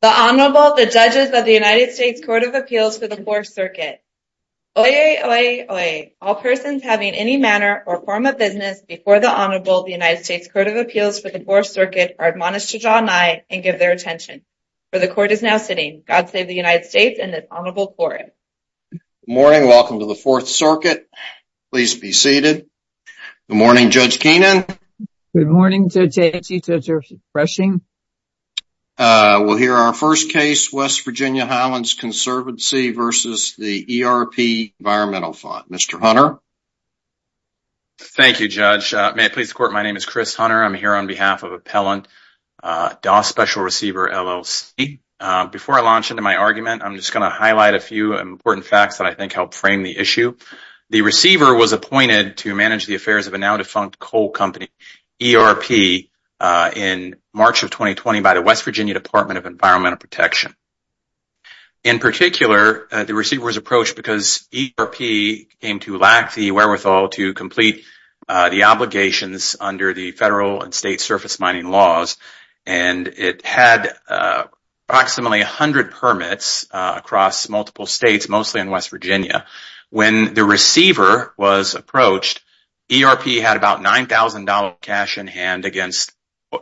The Honorable, the Judges of the United States Court of Appeals for the Fourth Circuit. Oyez, oyez, oyez. All persons having any manner or form of business before the Honorable of the United States Court of Appeals for the Fourth Circuit are admonished to draw nigh and give their attention. For the Court is now sitting. God save the United States and this Honorable Court. Good morning. Welcome to the Fourth Circuit. Please be seated. Good morning, Judge Keenan. Good morning, Judge Aitchi. Judge Rushing. We'll hear our first case, West Virginia Highlands Conservancy v. ERP Environmental Fund. Mr. Hunter. Thank you, Judge. May it please the Court, my name is Chris Hunter. I'm here on behalf of Appellant Doss Special Receiver, LLC. Before I launch into my argument, I'm just going to highlight a few important facts that I think help frame the issue. The receiver was appointed to manage the affairs of a now defunct coal company, ERP, in March of 2020 by the West Virginia Department of Environmental Protection. In particular, the receiver was approached because ERP came to lack the wherewithal to complete the obligations under the federal and state surface mining laws. And it had approximately 100 permits across multiple states, mostly in West Virginia. When the receiver was approached, ERP had about $9,000 cash in hand against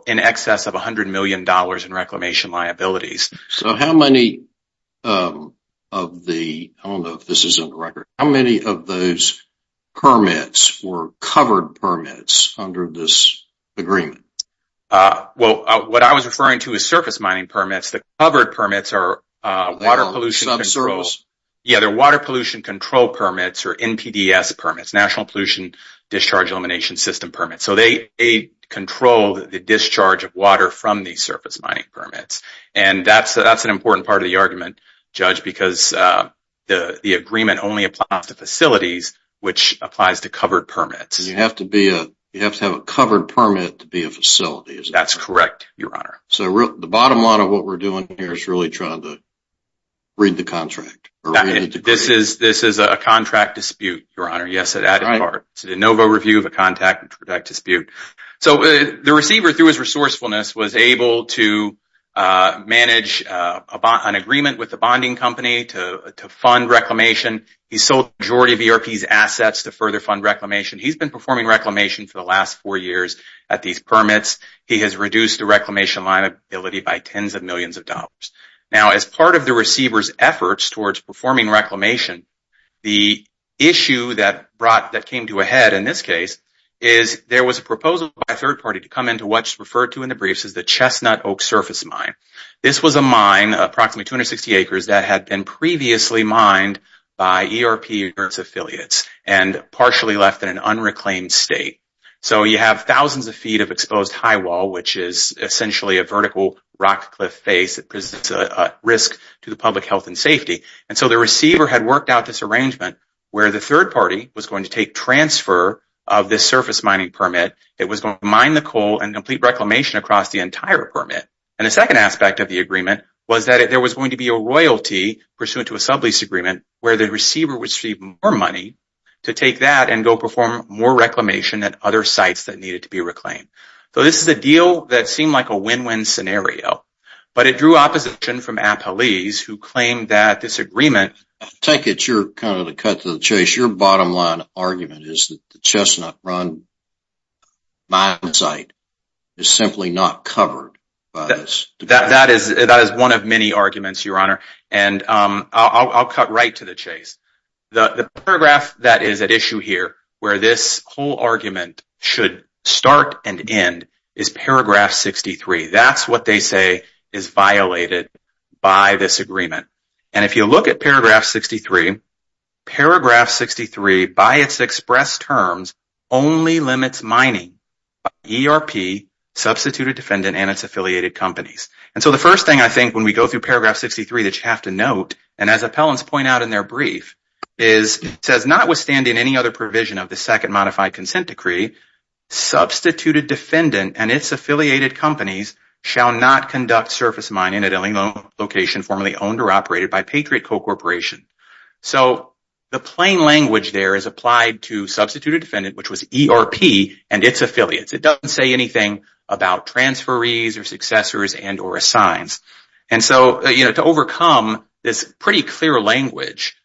in excess of $100 million in reclamation liabilities. So how many of the, I don't know if this is on record, how many of those permits were covered permits under this agreement? Well, what I was referring to as surface mining permits, the covered permits are water pollution control permits or NPDES permits, National Pollution Discharge Elimination System permits. So they control the discharge of water from these surface mining permits. And that's an important part of the argument, Judge, because the agreement only applies to facilities, which applies to covered permits. You have to have a covered permit to be a facility. That's correct, Your Honor. So the bottom line of what we're doing here is really trying to read the contract. This is a contract dispute, Your Honor. Yes, it is. It's a NOVA review of a contract dispute. So the receiver, through his resourcefulness, was able to manage an agreement with the bonding company to fund reclamation. He sold the majority of ERP's assets to further fund reclamation. He's been performing reclamation for the last four years at these permits. He has reduced the reclamation liability by tens of millions of dollars. Now, as part of the receiver's efforts towards performing reclamation, the issue that came to a head in this case is there was a proposal by a third party to come into what's referred to in the briefs as the Chestnut Oak Surface Mine. This was a mine, approximately 260 acres, that had been previously mined by ERP affiliates and partially left in an unreclaimed state. So you have thousands of feet of exposed high wall, which is essentially a vertical rock cliff face that presents a risk to the public health and safety. And so the receiver had worked out this arrangement where the third party was going to take transfer of this surface mining permit. It was going to mine the coal and complete reclamation across the entire permit. And the second aspect of the agreement was that there was going to be a royalty, pursuant to a sublease agreement, where the receiver would receive more money to take that and go perform more reclamation at other sites that needed to be reclaimed. So this is a deal that seemed like a win-win scenario, but it drew opposition from Appalese, who claimed that this agreement... That is one of many arguments, Your Honor, and I'll cut right to the chase. The paragraph that is at issue here, where this whole argument should start and end, is paragraph 63. That's what they say is violated by this agreement. And if you look at paragraph 63, paragraph 63, by its express terms, only limits mining by ERP, substituted defendant, and its affiliated companies. And so the first thing I think when we go through paragraph 63 that you have to note, and as appellants point out in their brief, is it says, notwithstanding any other provision of the second modified consent decree, substituted defendant and its affiliated companies shall not conduct surface mining at any location formerly owned or operated by Patriot co-corporation. So the plain language there is applied to substituted defendant, which was ERP, and its affiliates. It doesn't say anything about transferees or successors and or assigns. And so, you know, to overcome this pretty clear language,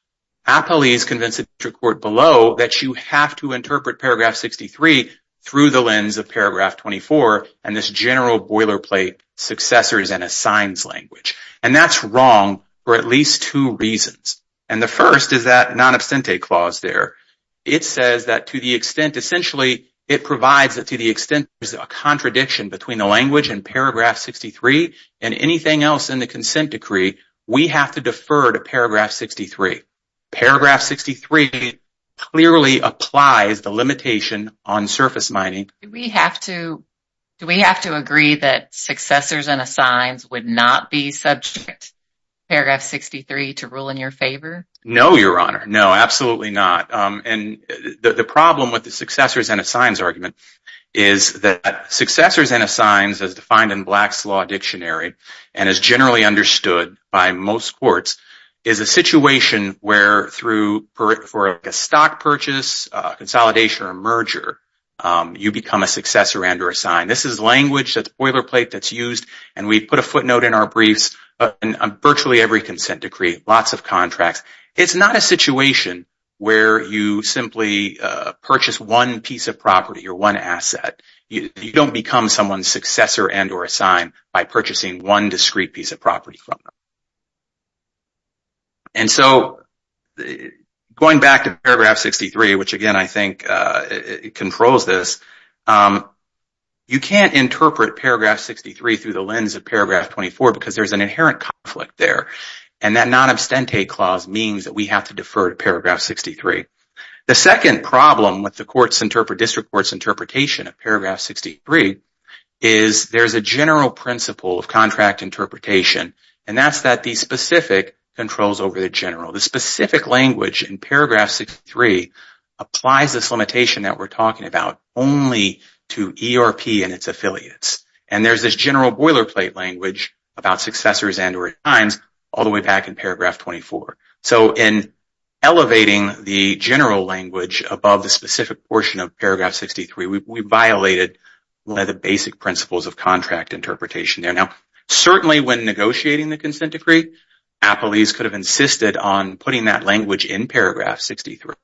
appellees convinced the district court below that you have to interpret paragraph 63 through the lens of paragraph 24 and this general boilerplate successors and assigns language. And that's wrong for at least two reasons. And the first is that non-absentee clause there. It says that to the extent, essentially, it provides that to the extent there's a contradiction between the language and paragraph 63 and anything else in the consent decree, we have to defer to paragraph 63. Paragraph 63 clearly applies the limitation on surface mining. Do we have to agree that successors and assigns would not be subject to paragraph 63 to rule in your favor? No, Your Honor. No, absolutely not. And the problem with the successors and assigns argument is that successors and assigns, as defined in Black's Law Dictionary and is generally understood by most courts, is a situation where for a stock purchase, consolidation, or merger, you become a successor and or assign. This is language that's boilerplate that's used. And we put a footnote in our briefs on virtually every consent decree, lots of contracts. It's not a situation where you simply purchase one piece of property or one asset. You don't become someone's successor and or assign by purchasing one discrete piece of property from them. And so going back to paragraph 63, which, again, I think controls this, you can't interpret paragraph 63 through the lens of paragraph 24 because there's an inherent conflict there. And that non-abstentee clause means that we have to defer to paragraph 63. The second problem with the district court's interpretation of paragraph 63 is there's a general principle of contract interpretation, and that's that the specific controls over the general. The specific language in paragraph 63 applies this limitation that we're talking about only to ERP and its affiliates. And there's this general boilerplate language about successors and or assigns all the way back in paragraph 24. So in elevating the general language above the specific portion of paragraph 63, we violated one of the basic principles of contract interpretation there. Now, certainly when negotiating the consent decree, appellees could have insisted on putting that language in paragraph 63.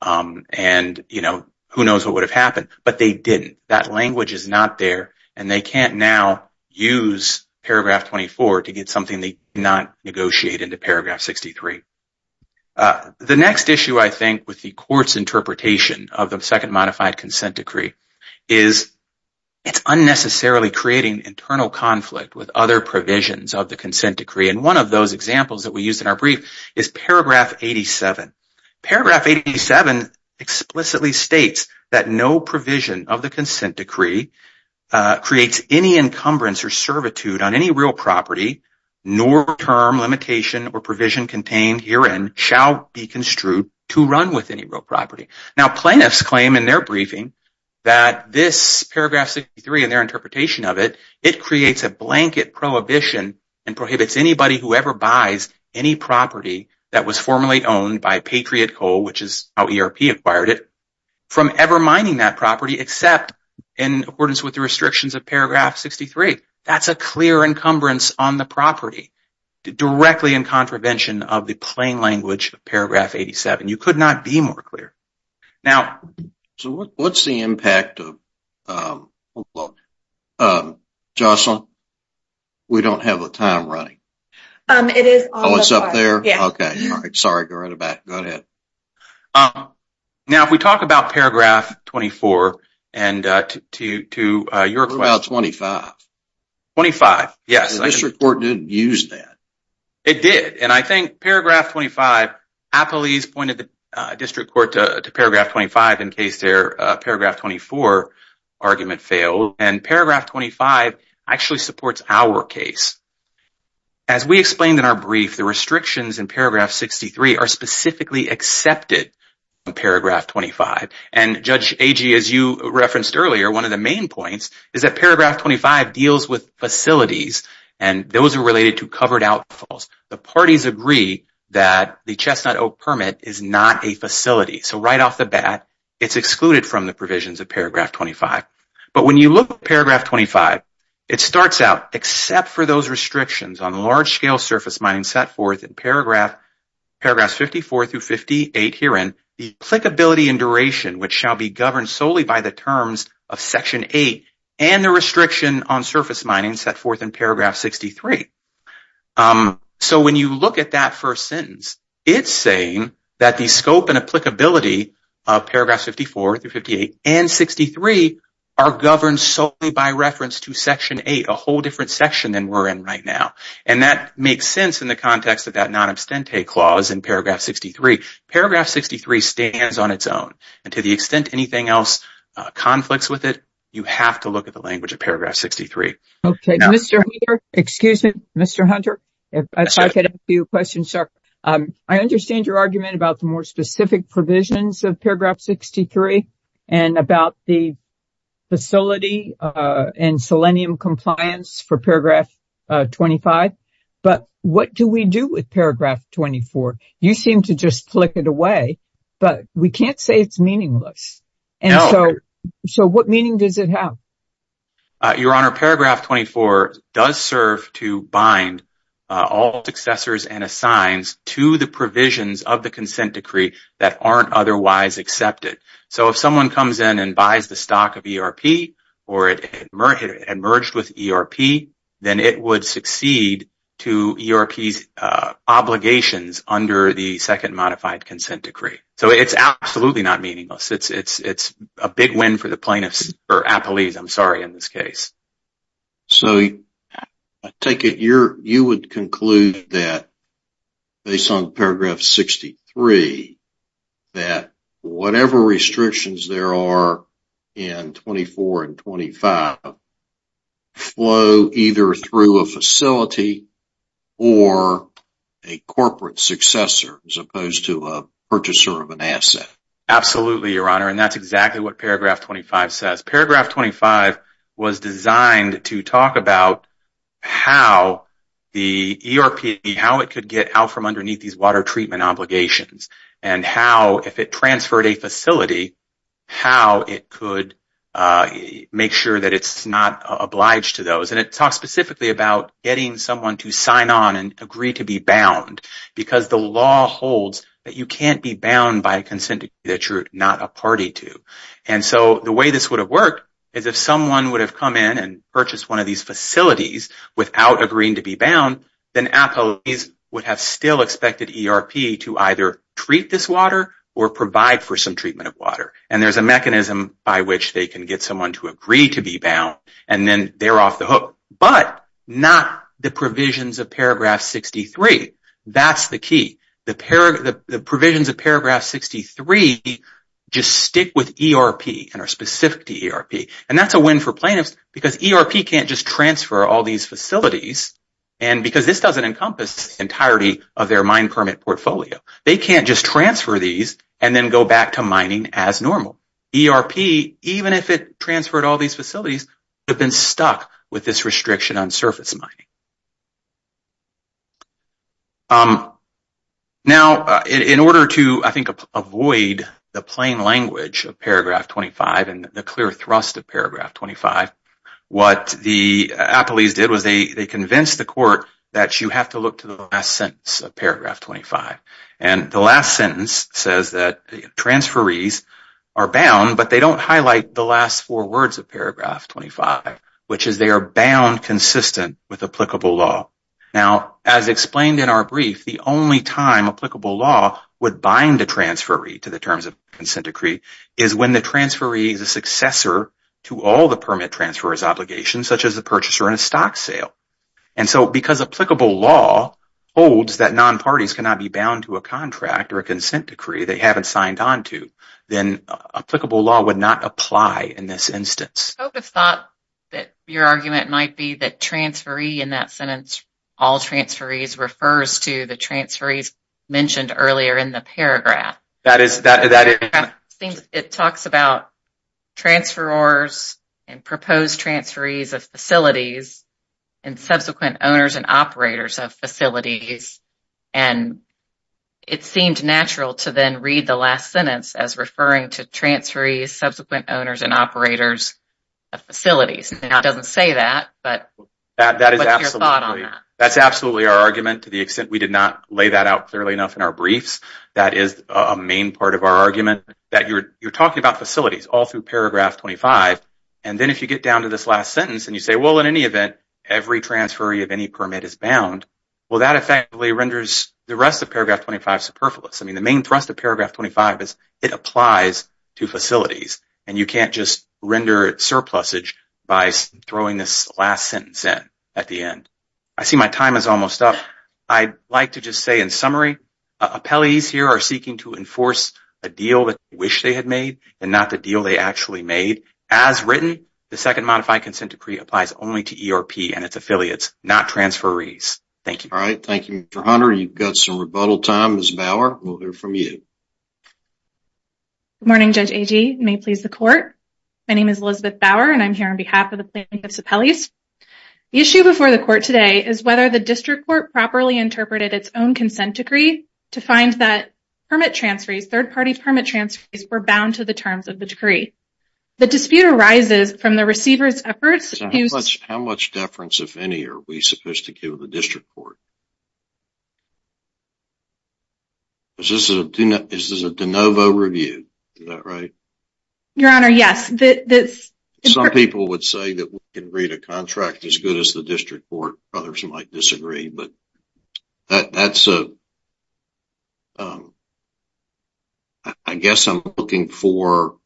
And, you know, who knows what would have happened, but they didn't. That language is not there, and they can't now use paragraph 24 to get something they cannot negotiate into paragraph 63. The next issue, I think, with the court's interpretation of the second modified consent decree is it's unnecessarily creating internal conflict with other provisions of the consent decree. And one of those examples that we used in our brief is paragraph 87. Paragraph 87 explicitly states that no provision of the consent decree creates any encumbrance or servitude on any real property, nor term, limitation, or provision contained herein shall be construed to run with any real property. Now, plaintiffs claim in their briefing that this paragraph 63 and their interpretation of it, it creates a blanket prohibition and prohibits anybody who ever buys any property that was formerly owned by Patriot Coal, which is how ERP acquired it, from ever mining that property except in accordance with the restrictions of paragraph 63. That's a clear encumbrance on the property directly in contravention of the plain language of paragraph 87. You could not be more clear. So what's the impact of... Jocelyn, we don't have a time running. Oh, it's up there? Okay. Sorry, go right back. Go ahead. Now, if we talk about paragraph 24 and to your question... What about 25? 25, yes. The district court didn't use that. It did, and I think paragraph 25, appellees pointed the district court to paragraph 25 in case their paragraph 24 argument failed, and paragraph 25 actually supports our case. As we explained in our brief, the restrictions in paragraph 63 are specifically accepted in paragraph 25, and Judge Agee, as you referenced earlier, one of the main points is that paragraph 25 deals with facilities, and those are related to covered outfalls. The parties agree that the chestnut oak permit is not a facility. So right off the bat, it's excluded from the provisions of paragraph 25. But when you look at paragraph 25, it starts out, except for those restrictions on large-scale surface mining set forth in paragraphs 54 through 58 herein, the applicability and duration which shall be governed solely by the terms of section 8 and the restriction on surface mining set forth in paragraph 63. So when you look at that first sentence, it's saying that the scope and applicability of paragraphs 54 through 58 and 63 are governed solely by reference to section 8, a whole different section than we're in right now. And that makes sense in the context of that non-abstentee clause in paragraph 63. Paragraph 63 stands on its own, and to the extent anything else conflicts with it, you have to look at the language of paragraph 63. Okay, Mr. Hunter, if I could ask you a question, sir. I understand your argument about the more specific provisions of paragraph 63 and about the facility and selenium compliance for paragraph 25. But what do we do with paragraph 24? You seem to just flick it away, but we can't say it's meaningless. So what meaning does it have? Your Honor, paragraph 24 does serve to bind all successors and assigns to the provisions of the consent decree that aren't otherwise accepted. So if someone comes in and buys the stock of ERP or it merged with ERP, then it would succeed to ERP's obligations under the second modified consent decree. So it's absolutely not meaningless. It's a big win for the plaintiffs or appellees, I'm sorry, in this case. So I take it you would conclude that, based on paragraph 63, that whatever restrictions there are in 24 and 25 flow either through a facility or a corporate successor as opposed to a purchaser of an asset. Absolutely, Your Honor, and that's exactly what paragraph 25 says. Paragraph 25 was designed to talk about how the ERP, how it could get out from underneath these water treatment obligations and how, if it transferred a facility, how it could make sure that it's not obliged to those. And it talks specifically about getting someone to sign on and agree to be bound because the law holds that you can't be bound by a consent decree that you're not a party to. And so the way this would have worked is if someone would have come in and purchased one of these facilities without agreeing to be bound, then appellees would have still expected ERP to either treat this water or provide for some treatment of water. And there's a mechanism by which they can get someone to agree to be bound and then they're off the hook, but not the provisions of paragraph 63. That's the key. The provisions of paragraph 63 just stick with ERP and are specific to ERP. And that's a win for plaintiffs because ERP can't just transfer all these facilities because this doesn't encompass the entirety of their mine permit portfolio. They can't just transfer these and then go back to mining as normal. So ERP, even if it transferred all these facilities, would have been stuck with this restriction on surface mining. Now, in order to, I think, avoid the plain language of paragraph 25 and the clear thrust of paragraph 25, what the appellees did was they convinced the court that you have to look to the last sentence of paragraph 25. And the last sentence says that transferees are bound, but they don't highlight the last four words of paragraph 25, which is they are bound consistent with applicable law. Now, as explained in our brief, the only time applicable law would bind a transferee to the terms of consent decree is when the transferee is a successor to all the permit transfer's obligations, such as a purchaser and a stock sale. And so, because applicable law holds that non-parties cannot be bound to a contract or a consent decree they haven't signed on to, then applicable law would not apply in this instance. I would have thought that your argument might be that transferee in that sentence, all transferees, refers to the transferees mentioned earlier in the paragraph. It talks about transferors and proposed transferees of facilities and subsequent owners and operators of facilities. And it seemed natural to then read the last sentence as referring to transferees, subsequent owners and operators of facilities. It doesn't say that, but what's your thought on that? That's absolutely our argument to the extent we did not lay that out clearly enough in our briefs. That is a main part of our argument, that you're talking about facilities all through paragraph 25, and then if you get down to this last sentence and you say, well, in any event, every transferee of any permit is bound, well, that effectively renders the rest of paragraph 25 superfluous. I mean, the main thrust of paragraph 25 is it applies to facilities, and you can't just render it surplusage by throwing this last sentence in at the end. I see my time is almost up. I'd like to just say in summary, appellees here are seeking to enforce a deal that they wish they had made and not the deal they actually made. As written, the Second Modified Consent Decree applies only to ERP and its affiliates, not transferees. Thank you. All right. Thank you, Mr. Hunter. You've got some rebuttal time. Ms. Bauer, we'll hear from you. Good morning, Judge Agee. May it please the Court. My name is Elizabeth Bauer, and I'm here on behalf of the plaintiffs' appellees. The issue before the Court today is whether the district court properly interpreted its own consent decree to find that permit transferees, third-party permit transferees, were bound to the terms of the decree. The dispute arises from the receiver's efforts. How much deference, if any, are we supposed to give the district court? Is this a de novo review? Is that right? Your Honor, yes. Some people would say that we can read a contract as good as the district court. Others might disagree, but that's a – I guess I'm looking for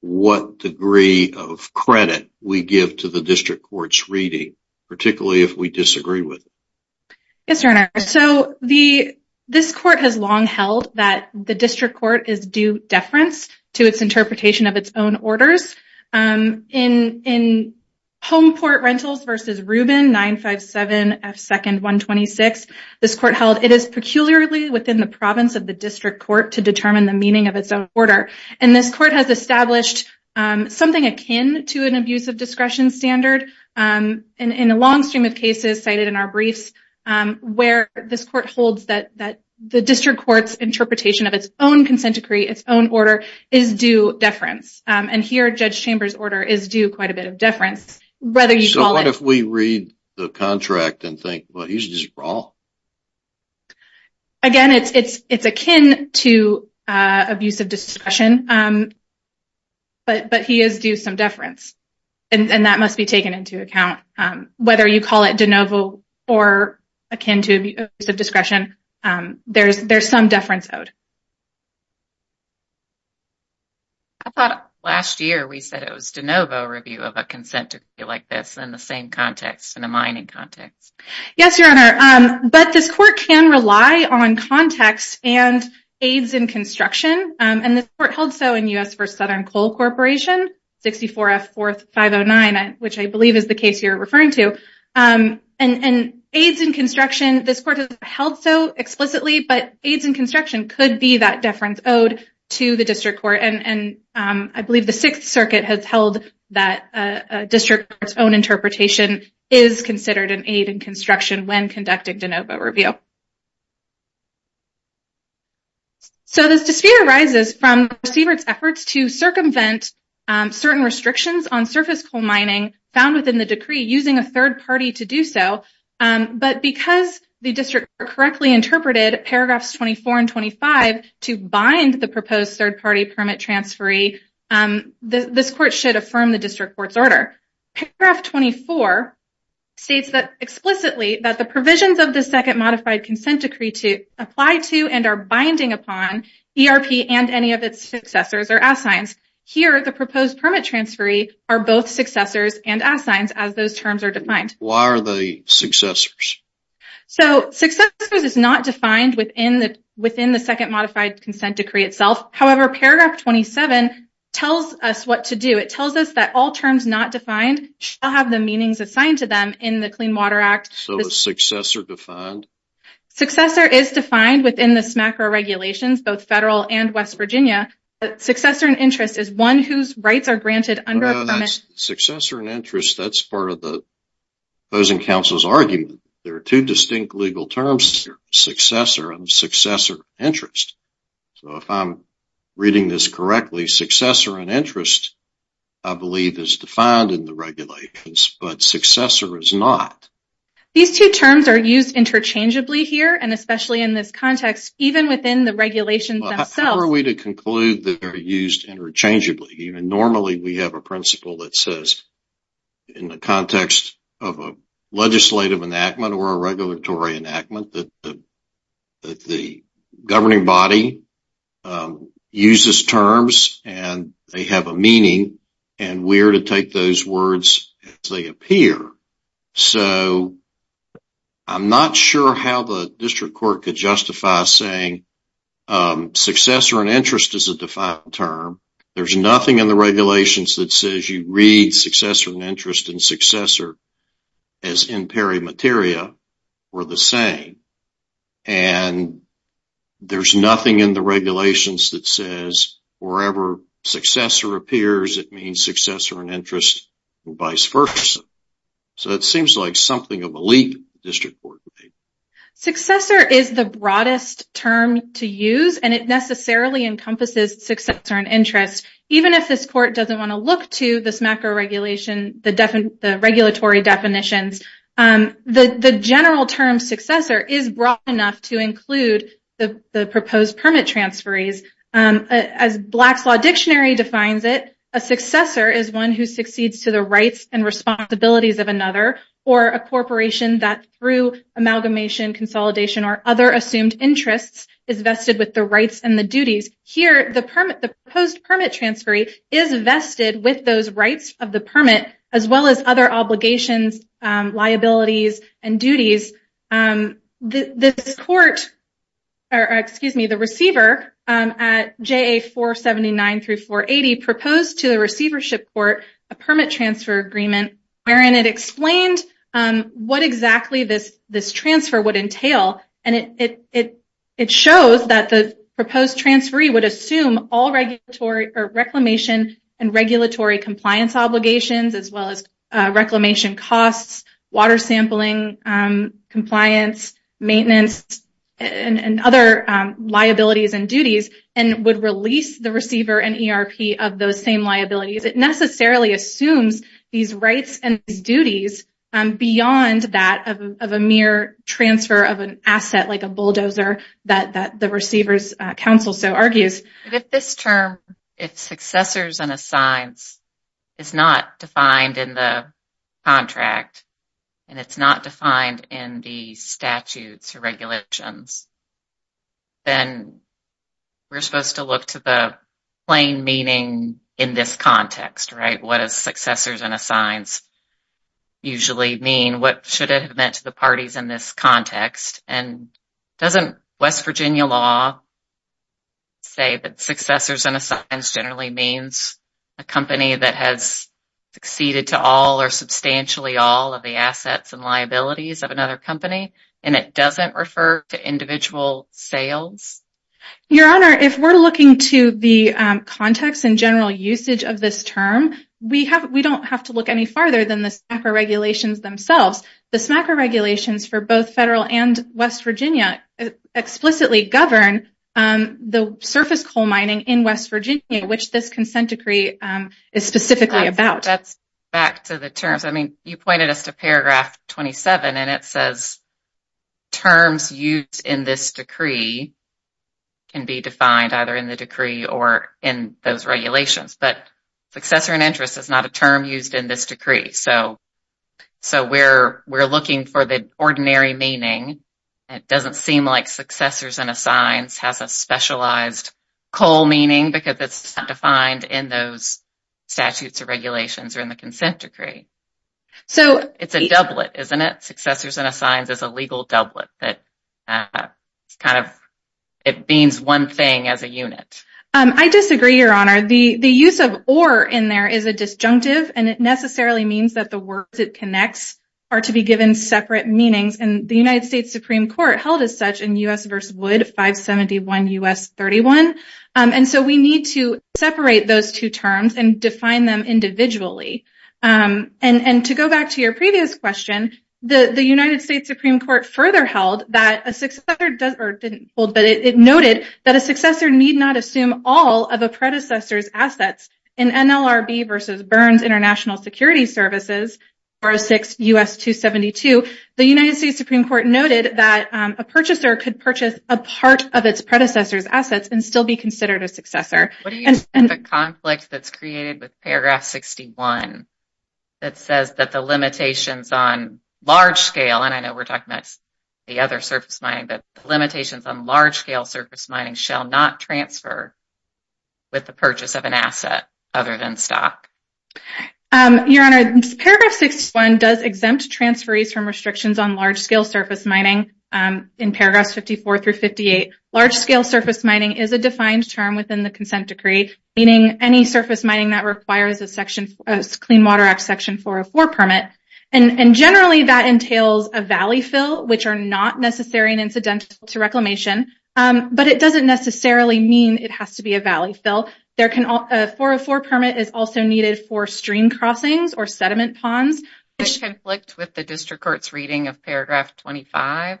what degree of credit we give to the district court's reading, particularly if we disagree with it. Yes, Your Honor. So this Court has long held that the district court is due deference to its interpretation of its own orders. In Homeport Rentals v. Rubin 957F2-126, this Court held, it is peculiarly within the province of the district court to determine the meaning of its own order. And this Court has established something akin to an abusive discretion standard in a long stream of cases cited in our briefs, where this Court holds that the district court's interpretation of its own consent decree, its own order, is due deference. And here, Judge Chambers' order is due quite a bit of deference. So what if we read the contract and think, well, he's just wrong? Again, it's akin to abusive discretion, but he is due some deference. And that must be taken into account. Whether you call it de novo or akin to abusive discretion, there's some deference owed. I thought last year we said it was de novo review of a consent decree like this in the same context, in a mining context. Yes, Your Honor. But this Court can rely on context and aids in construction, and this Court held so in U.S. v. Southern Coal Corporation, 64 F. 4th 509, which I believe is the case you're referring to. And aids in construction, this Court held so explicitly, but aids in construction could be that deference owed to the district court. And I believe the Sixth Circuit has held that a district court's own interpretation is considered an aid in construction when conducting de novo review. So this dispute arises from the receiver's efforts to circumvent certain restrictions on surface coal mining found within the decree using a third party to do so. But because the district court correctly interpreted paragraphs 24 and 25 to bind the proposed third party permit transferee, paragraph 24 states explicitly that the provisions of the Second Modified Consent Decree apply to and are binding upon ERP and any of its successors or assigns. Here, the proposed permit transferee are both successors and assigns as those terms are defined. Why are they successors? So successors is not defined within the Second Modified Consent Decree itself. However, paragraph 27 tells us what to do. It tells us that all terms not defined shall have the meanings assigned to them in the Clean Water Act. So is successor defined? Successor is defined within the SMACRA regulations, both federal and West Virginia. Successor and interest is one whose rights are granted under a permit. Successor and interest, that's part of the opposing counsel's argument. There are two distinct legal terms here, successor and successor interest. So if I'm reading this correctly, successor and interest, I believe, is defined in the regulations, but successor is not. These two terms are used interchangeably here, and especially in this context, even within the regulations themselves. How are we to conclude that they're used interchangeably? Normally, we have a principle that says in the context of a legislative enactment or a regulatory enactment that the governing body uses terms and they have a meaning, and we're to take those words as they appear. So I'm not sure how the district court could justify saying successor and interest is a defined term. There's nothing in the regulations that says you read successor and interest and successor as in peri materia or the same. And there's nothing in the regulations that says wherever successor appears, it means successor and interest or vice versa. So it seems like something of a leap the district court could make. Successor is the broadest term to use, and it necessarily encompasses successor and interest. Even if this court doesn't want to look to this macro regulation, the regulatory definitions, the general term successor is broad enough to include the proposed permit transferees. As Black's Law Dictionary defines it, a successor is one who succeeds to the rights and responsibilities of another or a corporation that through amalgamation, consolidation, or other assumed interests is vested with the rights and the duties. Here, the proposed permit transferee is vested with those rights of the permit as well as other obligations, liabilities, and duties. This court, or excuse me, the receiver at JA 479 through 480 proposed to the receivership court a permit transfer agreement wherein it explained what exactly this transfer would entail, and it shows that the proposed transferee would assume all reclamation and regulatory compliance obligations as well as reclamation costs, water sampling, compliance, maintenance, and other liabilities and duties, and would release the receiver and ERP of those same liabilities. It necessarily assumes these rights and these duties beyond that of a mere transfer of an asset like a bulldozer If this term, if successors and assigns, is not defined in the contract, and it's not defined in the statutes or regulations, then we're supposed to look to the plain meaning in this context, right? What does successors and assigns usually mean? What should it have meant to the parties in this context? And doesn't West Virginia law say that successors and assigns generally means a company that has succeeded to all or substantially all of the assets and liabilities of another company, and it doesn't refer to individual sales? Your Honor, if we're looking to the context and general usage of this term, we don't have to look any farther than the SMACRA regulations themselves. The SMACRA regulations for both federal and West Virginia explicitly govern the surface coal mining in West Virginia, which this consent decree is specifically about. That's back to the terms. I mean, you pointed us to paragraph 27, and it says, terms used in this decree can be defined either in the decree or in those regulations, but successor and interest is not a term used in this decree. So we're looking for the ordinary meaning. It doesn't seem like successors and assigns has a specialized coal meaning because it's not defined in those statutes or regulations or in the consent decree. So it's a doublet, isn't it? Successors and assigns is a legal doublet that kind of it means one thing as a unit. I disagree, Your Honor. The use of or in there is a disjunctive, and it necessarily means that the words it connects are to be given separate meanings, and the United States Supreme Court held as such in U.S. v. Wood 571 U.S. 31. And so we need to separate those two terms and define them individually. And to go back to your previous question, the United States Supreme Court further held that a successor does or didn't hold, in NLRB v. Burns International Security Services, 406 U.S. 272, the United States Supreme Court noted that a purchaser could purchase a part of its predecessor's assets and still be considered a successor. What do you think of the conflict that's created with paragraph 61 that says that the limitations on large scale, and I know we're talking about the other surface mining, that the limitations on large scale surface mining shall not transfer with the purchase of an asset other than stock? Your Honor, paragraph 61 does exempt transferees from restrictions on large scale surface mining. In paragraphs 54 through 58, large scale surface mining is a defined term within the consent decree, meaning any surface mining that requires a Clean Water Act section 404 permit. And generally that entails a valley fill, which are not necessary and incidental to reclamation, but it doesn't necessarily mean it has to be a valley fill. A 404 permit is also needed for stream crossings or sediment ponds. Does it conflict with the district court's reading of paragraph 25?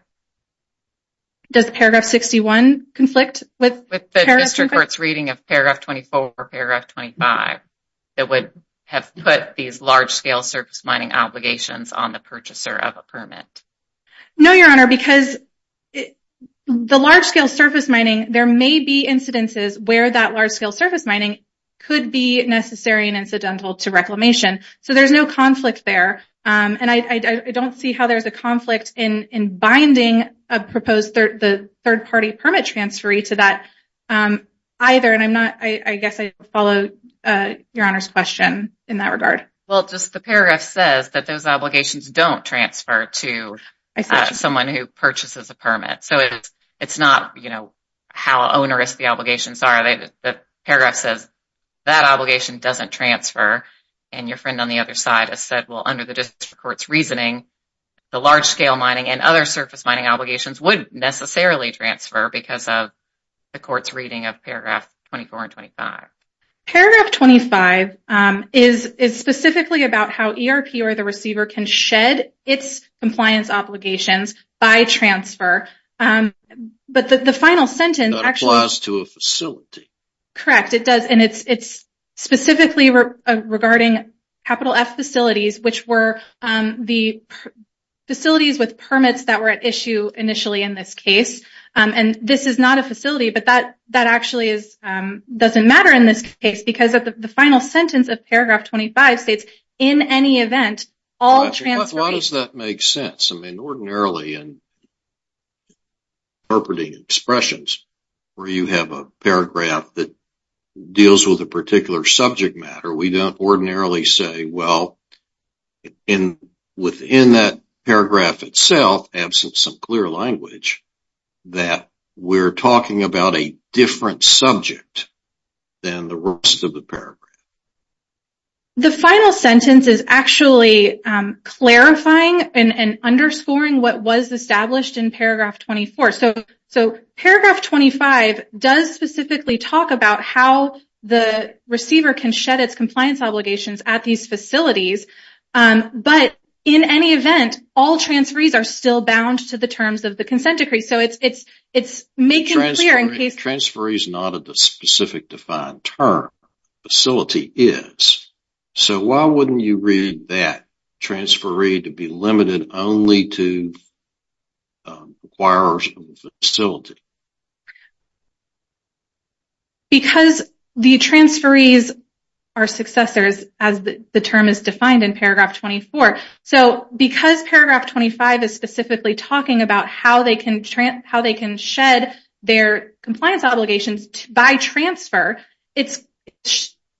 Does paragraph 61 conflict with paragraph 25? Does it conflict with the district court's reading of paragraph 24 or paragraph 25 that would have put these large scale surface mining obligations on the purchaser of a permit? No, Your Honor, because the large scale surface mining, there may be incidences where that large scale surface mining could be necessary and incidental to reclamation. So there's no conflict there. And I don't see how there's a conflict in binding a proposed third party permit transferee to that either. And I'm not, I guess I follow Your Honor's question in that regard. Well, just the paragraph says that those obligations don't transfer to someone who purchases a permit. So it's not, you know, how onerous the obligations are. The paragraph says that obligation doesn't transfer. And your friend on the other side has said, well, under the district court's reasoning, the large scale mining and other surface mining obligations wouldn't necessarily transfer because of the court's reading of paragraph 24 and 25. Paragraph 25 is specifically about how ERP or the receiver can shed its compliance obligations by transfer. Correct, it does. And it's specifically regarding capital F facilities, which were the facilities with permits that were at issue initially in this case. And this is not a facility, but that actually doesn't matter in this case because the final sentence of paragraph 25 states, in any event, all transferees... Why does that make sense? I mean, ordinarily in interpreting expressions where you have a paragraph that deals with a particular subject matter, we don't ordinarily say, well, within that paragraph itself, absent some clear language, that we're talking about a different subject than the rest of the paragraph. The final sentence is actually clarifying and underscoring what was established in paragraph 24. So paragraph 25 does specifically talk about how the receiver can shed its compliance obligations at these facilities. But in any event, all transferees are still bound to the terms of the consent decree. So it's making clear in case... The transferee is not a specific defined term. The facility is. So why wouldn't you read that transferee to be limited only to acquirers of the facility? Because the transferees are successors, as the term is defined in paragraph 24. So because paragraph 25 is specifically talking about how they can shed their compliance obligations by transfer, it's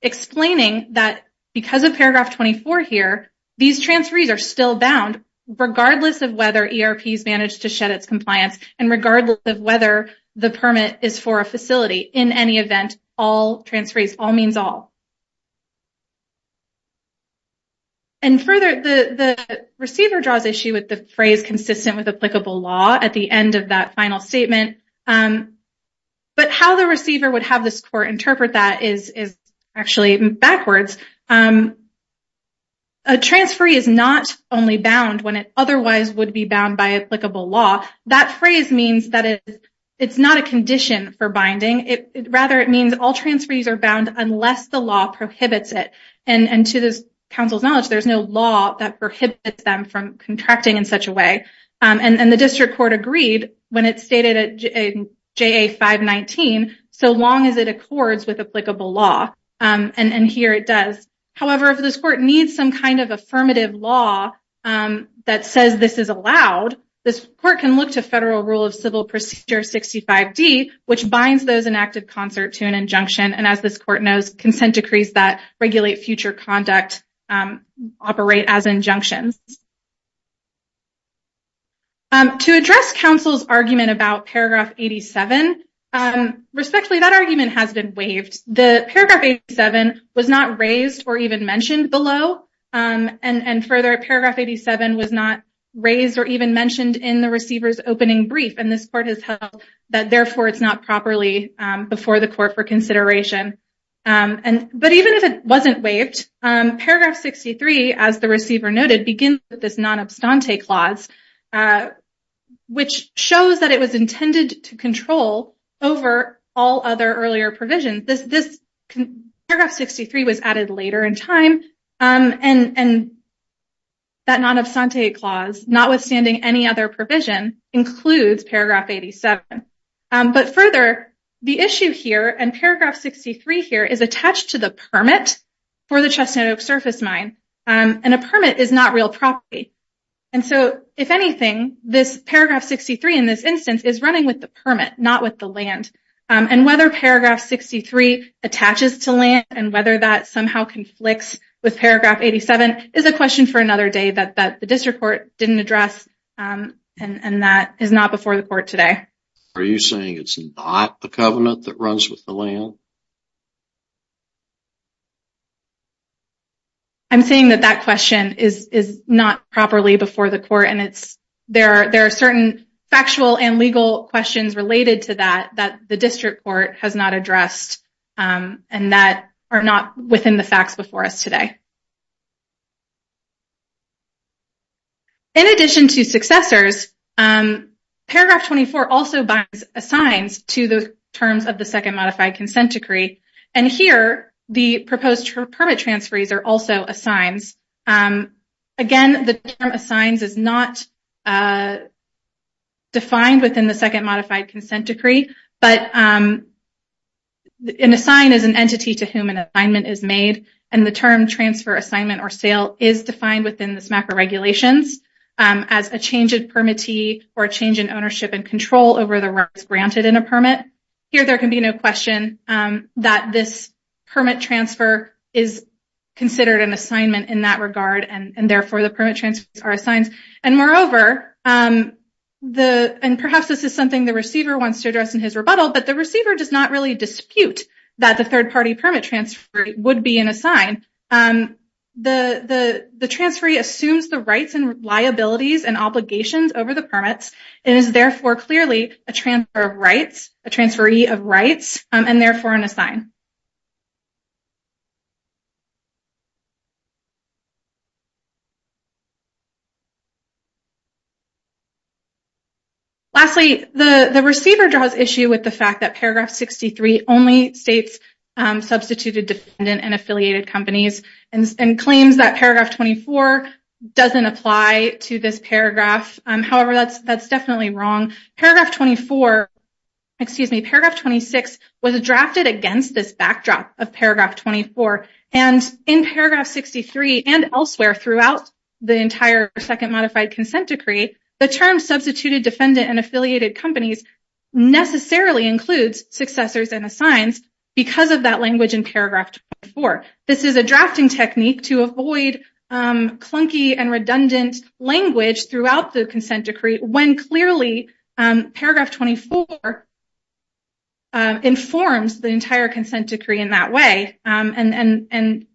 explaining that because of paragraph 24 here, these transferees are still bound, regardless of whether ERP has managed to shed its compliance, and regardless of whether the permit is for a facility. In any event, all transferees, all means all. And further, the receiver draws issue with the phrase consistent with applicable law at the end of that final statement. But how the receiver would have this court interpret that is actually backwards. A transferee is not only bound when it otherwise would be bound by applicable law. That phrase means that it's not a condition for binding. Rather, it means all transferees are bound unless the law prohibits it. And to this counsel's knowledge, there's no law that prohibits them from contracting in such a way. And the district court agreed when it stated in JA 519, so long as it accords with applicable law. And here it does. However, if this court needs some kind of affirmative law that says this is allowed, this court can look to federal rule of civil procedure 65D, which binds those enacted concert to an injunction. And as this court knows, consent decrees that regulate future conduct operate as injunctions. To address counsel's argument about paragraph 87, respectfully, that argument has been waived. The paragraph 87 was not raised or even mentioned below. And further, paragraph 87 was not raised or even mentioned in the receiver's opening brief. And this court has held that, therefore, it's not properly before the court for consideration. But even if it wasn't waived, paragraph 63, as the receiver noted, begins with this non-abstante clause, which shows that it was intended to control over all other earlier provisions. Paragraph 63 was added later in time. And that non-abstante clause, notwithstanding any other provision, includes paragraph 87. But further, the issue here, and paragraph 63 here, is attached to the permit for the Chestnut Oak surface mine. And a permit is not real property. And so, if anything, this paragraph 63 in this instance is running with the permit, not with the land. And whether paragraph 63 attaches to land and whether that somehow conflicts with paragraph 87 is a question for another day that the district court didn't address. And that is not before the court today. Are you saying it's not the covenant that runs with the land? I'm saying that that question is not properly before the court. There are certain factual and legal questions related to that that the district court has not addressed. And that are not within the facts before us today. In addition to successors, paragraph 24 also assigns to the terms of the Second Modified Consent Decree. And here, the proposed permit transferees are also assigned. Again, the term assigns is not defined within the Second Modified Consent Decree. But an assign is an entity to whom an assignment is made. And the term transfer, assignment, or sale is defined within this MACRA regulations as a change in permittee or a change in ownership and control over the rights granted in a permit. Here, there can be no question that this permit transfer is considered an assignment in that regard. And therefore, the permit transferees are assigned. And moreover, and perhaps this is something the receiver wants to address in his rebuttal, but the receiver does not really dispute that the third party permit transferee would be an assign. The transferee assumes the rights and liabilities and obligations over the permits and is therefore clearly a transfer of rights, a transferee of rights, and therefore an assign. Lastly, the receiver draws issue with the fact that paragraph 63 only states substituted, dependent, and affiliated companies and claims that paragraph 24 doesn't apply to this paragraph. However, that's definitely wrong. Paragraph 24, excuse me, paragraph 26 was drafted against this backdrop of paragraph 24. And in paragraph 63 and elsewhere throughout the entire Second Modified Consent Decree, the term substituted, dependent, and affiliated companies necessarily includes successors and assigns because of that language in paragraph 24. This is a drafting technique to avoid clunky and redundant language throughout the Consent Decree when clearly paragraph 24 informs the entire Consent Decree in that way. And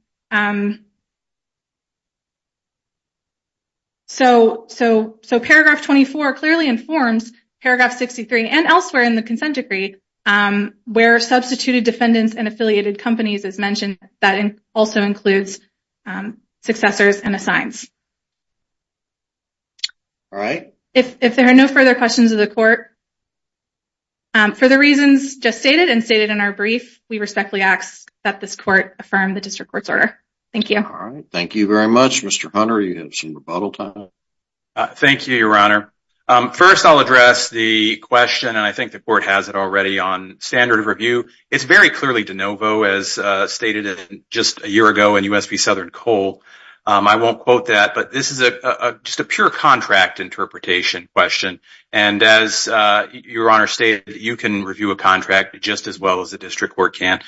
so paragraph 24 clearly informs paragraph 63 and elsewhere in the Consent Decree where substituted, dependent, and affiliated companies is mentioned. That also includes successors and assigns. If there are no further questions of the Court, for the reasons just stated and stated in our brief, we respectfully ask that this Court affirm the District Court's order. Thank you. Thank you very much. Mr. Hunter, you have some rebuttal time. Thank you, Your Honor. First, I'll address the question, and I think the Court has it already, on standard of review. It's very clearly de novo as stated just a year ago in U.S. v. Southern Coal. I won't quote that, but this is just a pure contract interpretation question. And as Your Honor stated, you can review a contract just as well as the District Court can.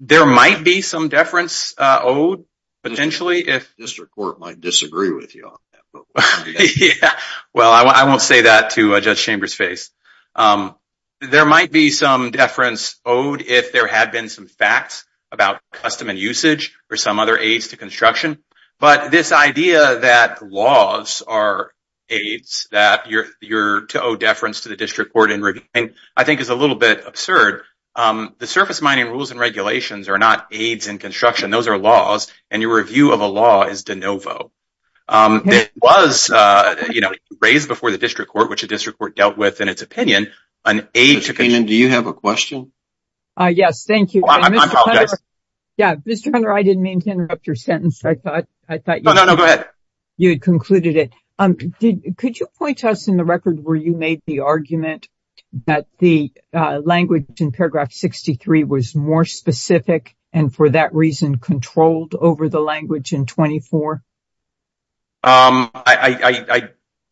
There might be some deference owed, potentially. The District Court might disagree with you on that. Well, I won't say that to Judge Chambers' face. There might be some deference owed if there had been some facts about custom and usage or some other aids to construction. But this idea that laws are aids to owe deference to the District Court in reviewing I think is a little bit absurd. The surface mining rules and regulations are not aids in construction. Those are laws, and your review of a law is de novo. It was raised before the District Court, which the District Court dealt with in its opinion. Mr. Keenan, do you have a question? Yes, thank you. I apologize. Mr. Hunter, I didn't mean to interrupt your sentence. I thought you had concluded it. Could you point to us in the record where you made the argument that the language in paragraph 63 was more specific and for that reason controlled over the language in 24? I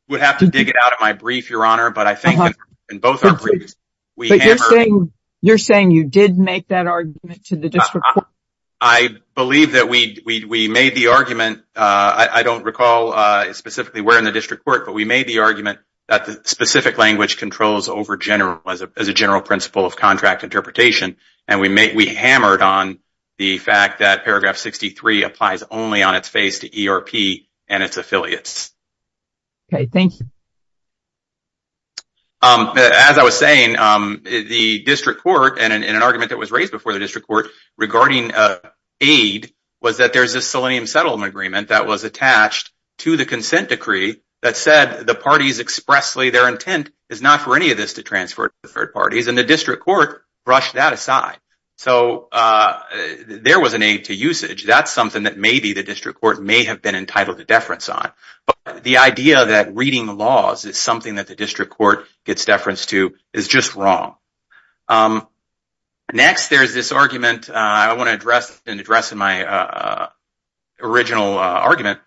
would have to dig it out of my brief, Your Honor. But I think in both our briefs we hammered it. You're saying you did make that argument to the District Court? I believe that we made the argument. I don't recall specifically where in the District Court, but we made the argument that the specific language controls as a general principle of contract interpretation, and we hammered on the fact that paragraph 63 applies only on its face to ERP and its affiliates. Okay, thank you. As I was saying, the District Court, and in an argument that was raised before the District Court regarding aid, was that there's a selenium settlement agreement that was attached to the consent decree that said the parties expressly their intent is not for any of this to transfer to third parties, and the District Court brushed that aside. So there was an aid to usage. That's something that maybe the District Court may have been entitled to deference on. But the idea that reading laws is something that the District Court gets deference to is just wrong. Next, there's this argument I want to address in my original argument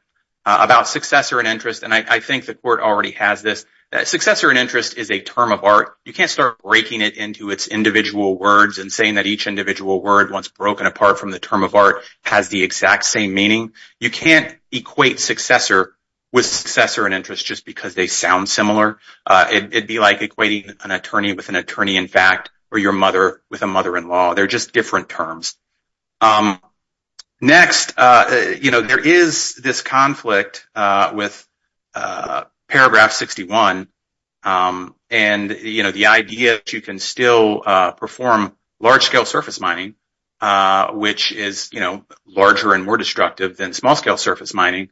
about successor and interest, and I think the Court already has this. Successor and interest is a term of art. You can't start breaking it into its individual words and saying that each individual word, once broken apart from the term of art, has the exact same meaning. You can't equate successor with successor and interest just because they sound similar. It would be like equating an attorney with an attorney-in-fact or your mother with a mother-in-law. They're just different terms. Next, there is this conflict with Paragraph 61, and the idea that you can still perform large-scale surface mining, which is larger and more destructive than small-scale surface mining,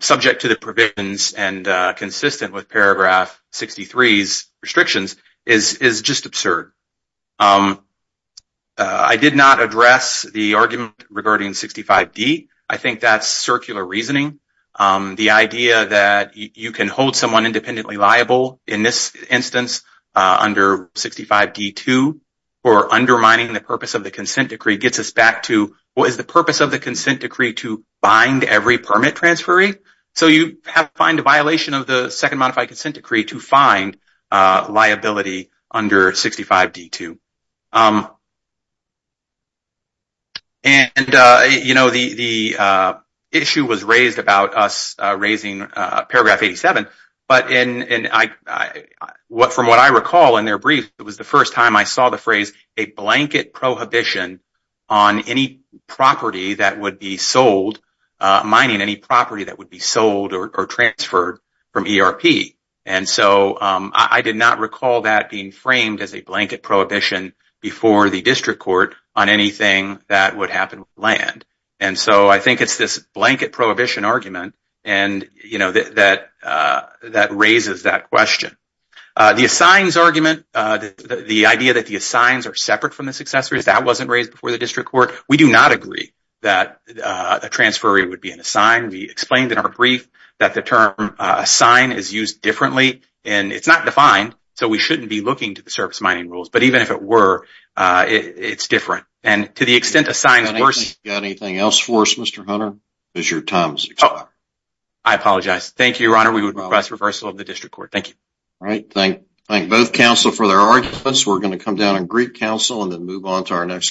subject to the provisions and consistent with Paragraph 63's restrictions, is just absurd. I did not address the argument regarding 65D. I think that's circular reasoning. The idea that you can hold someone independently liable, in this instance under 65D2, for undermining the purpose of the consent decree gets us back to, well, is the purpose of the consent decree to bind every permit transferee? So you have to find a violation of the Second Modified Consent Decree to find liability under 65D2. The issue was raised about us raising Paragraph 87, but from what I recall in their brief, it was the first time I saw the phrase, a blanket prohibition on any property that would be sold, mining any property that would be sold or transferred from ERP. And so I did not recall that being framed as a blanket prohibition before the district court on anything that would happen with land. And so I think it's this blanket prohibition argument that raises that question. The assigns argument, the idea that the assigns are separate from the successors, that wasn't raised before the district court. We do not agree that a transferee would be an assign. We explained in our brief that the term assign is used differently, and it's not defined, so we shouldn't be looking to the service mining rules. But even if it were, it's different. And to the extent assigns were— Got anything else for us, Mr. Hunter? Because your time is up. I apologize. Thank you, Your Honor. We would request reversal of the district court. Thank you. All right. Thank both counsel for their arguments. We're going to come down on Greek counsel and then move on to our next case.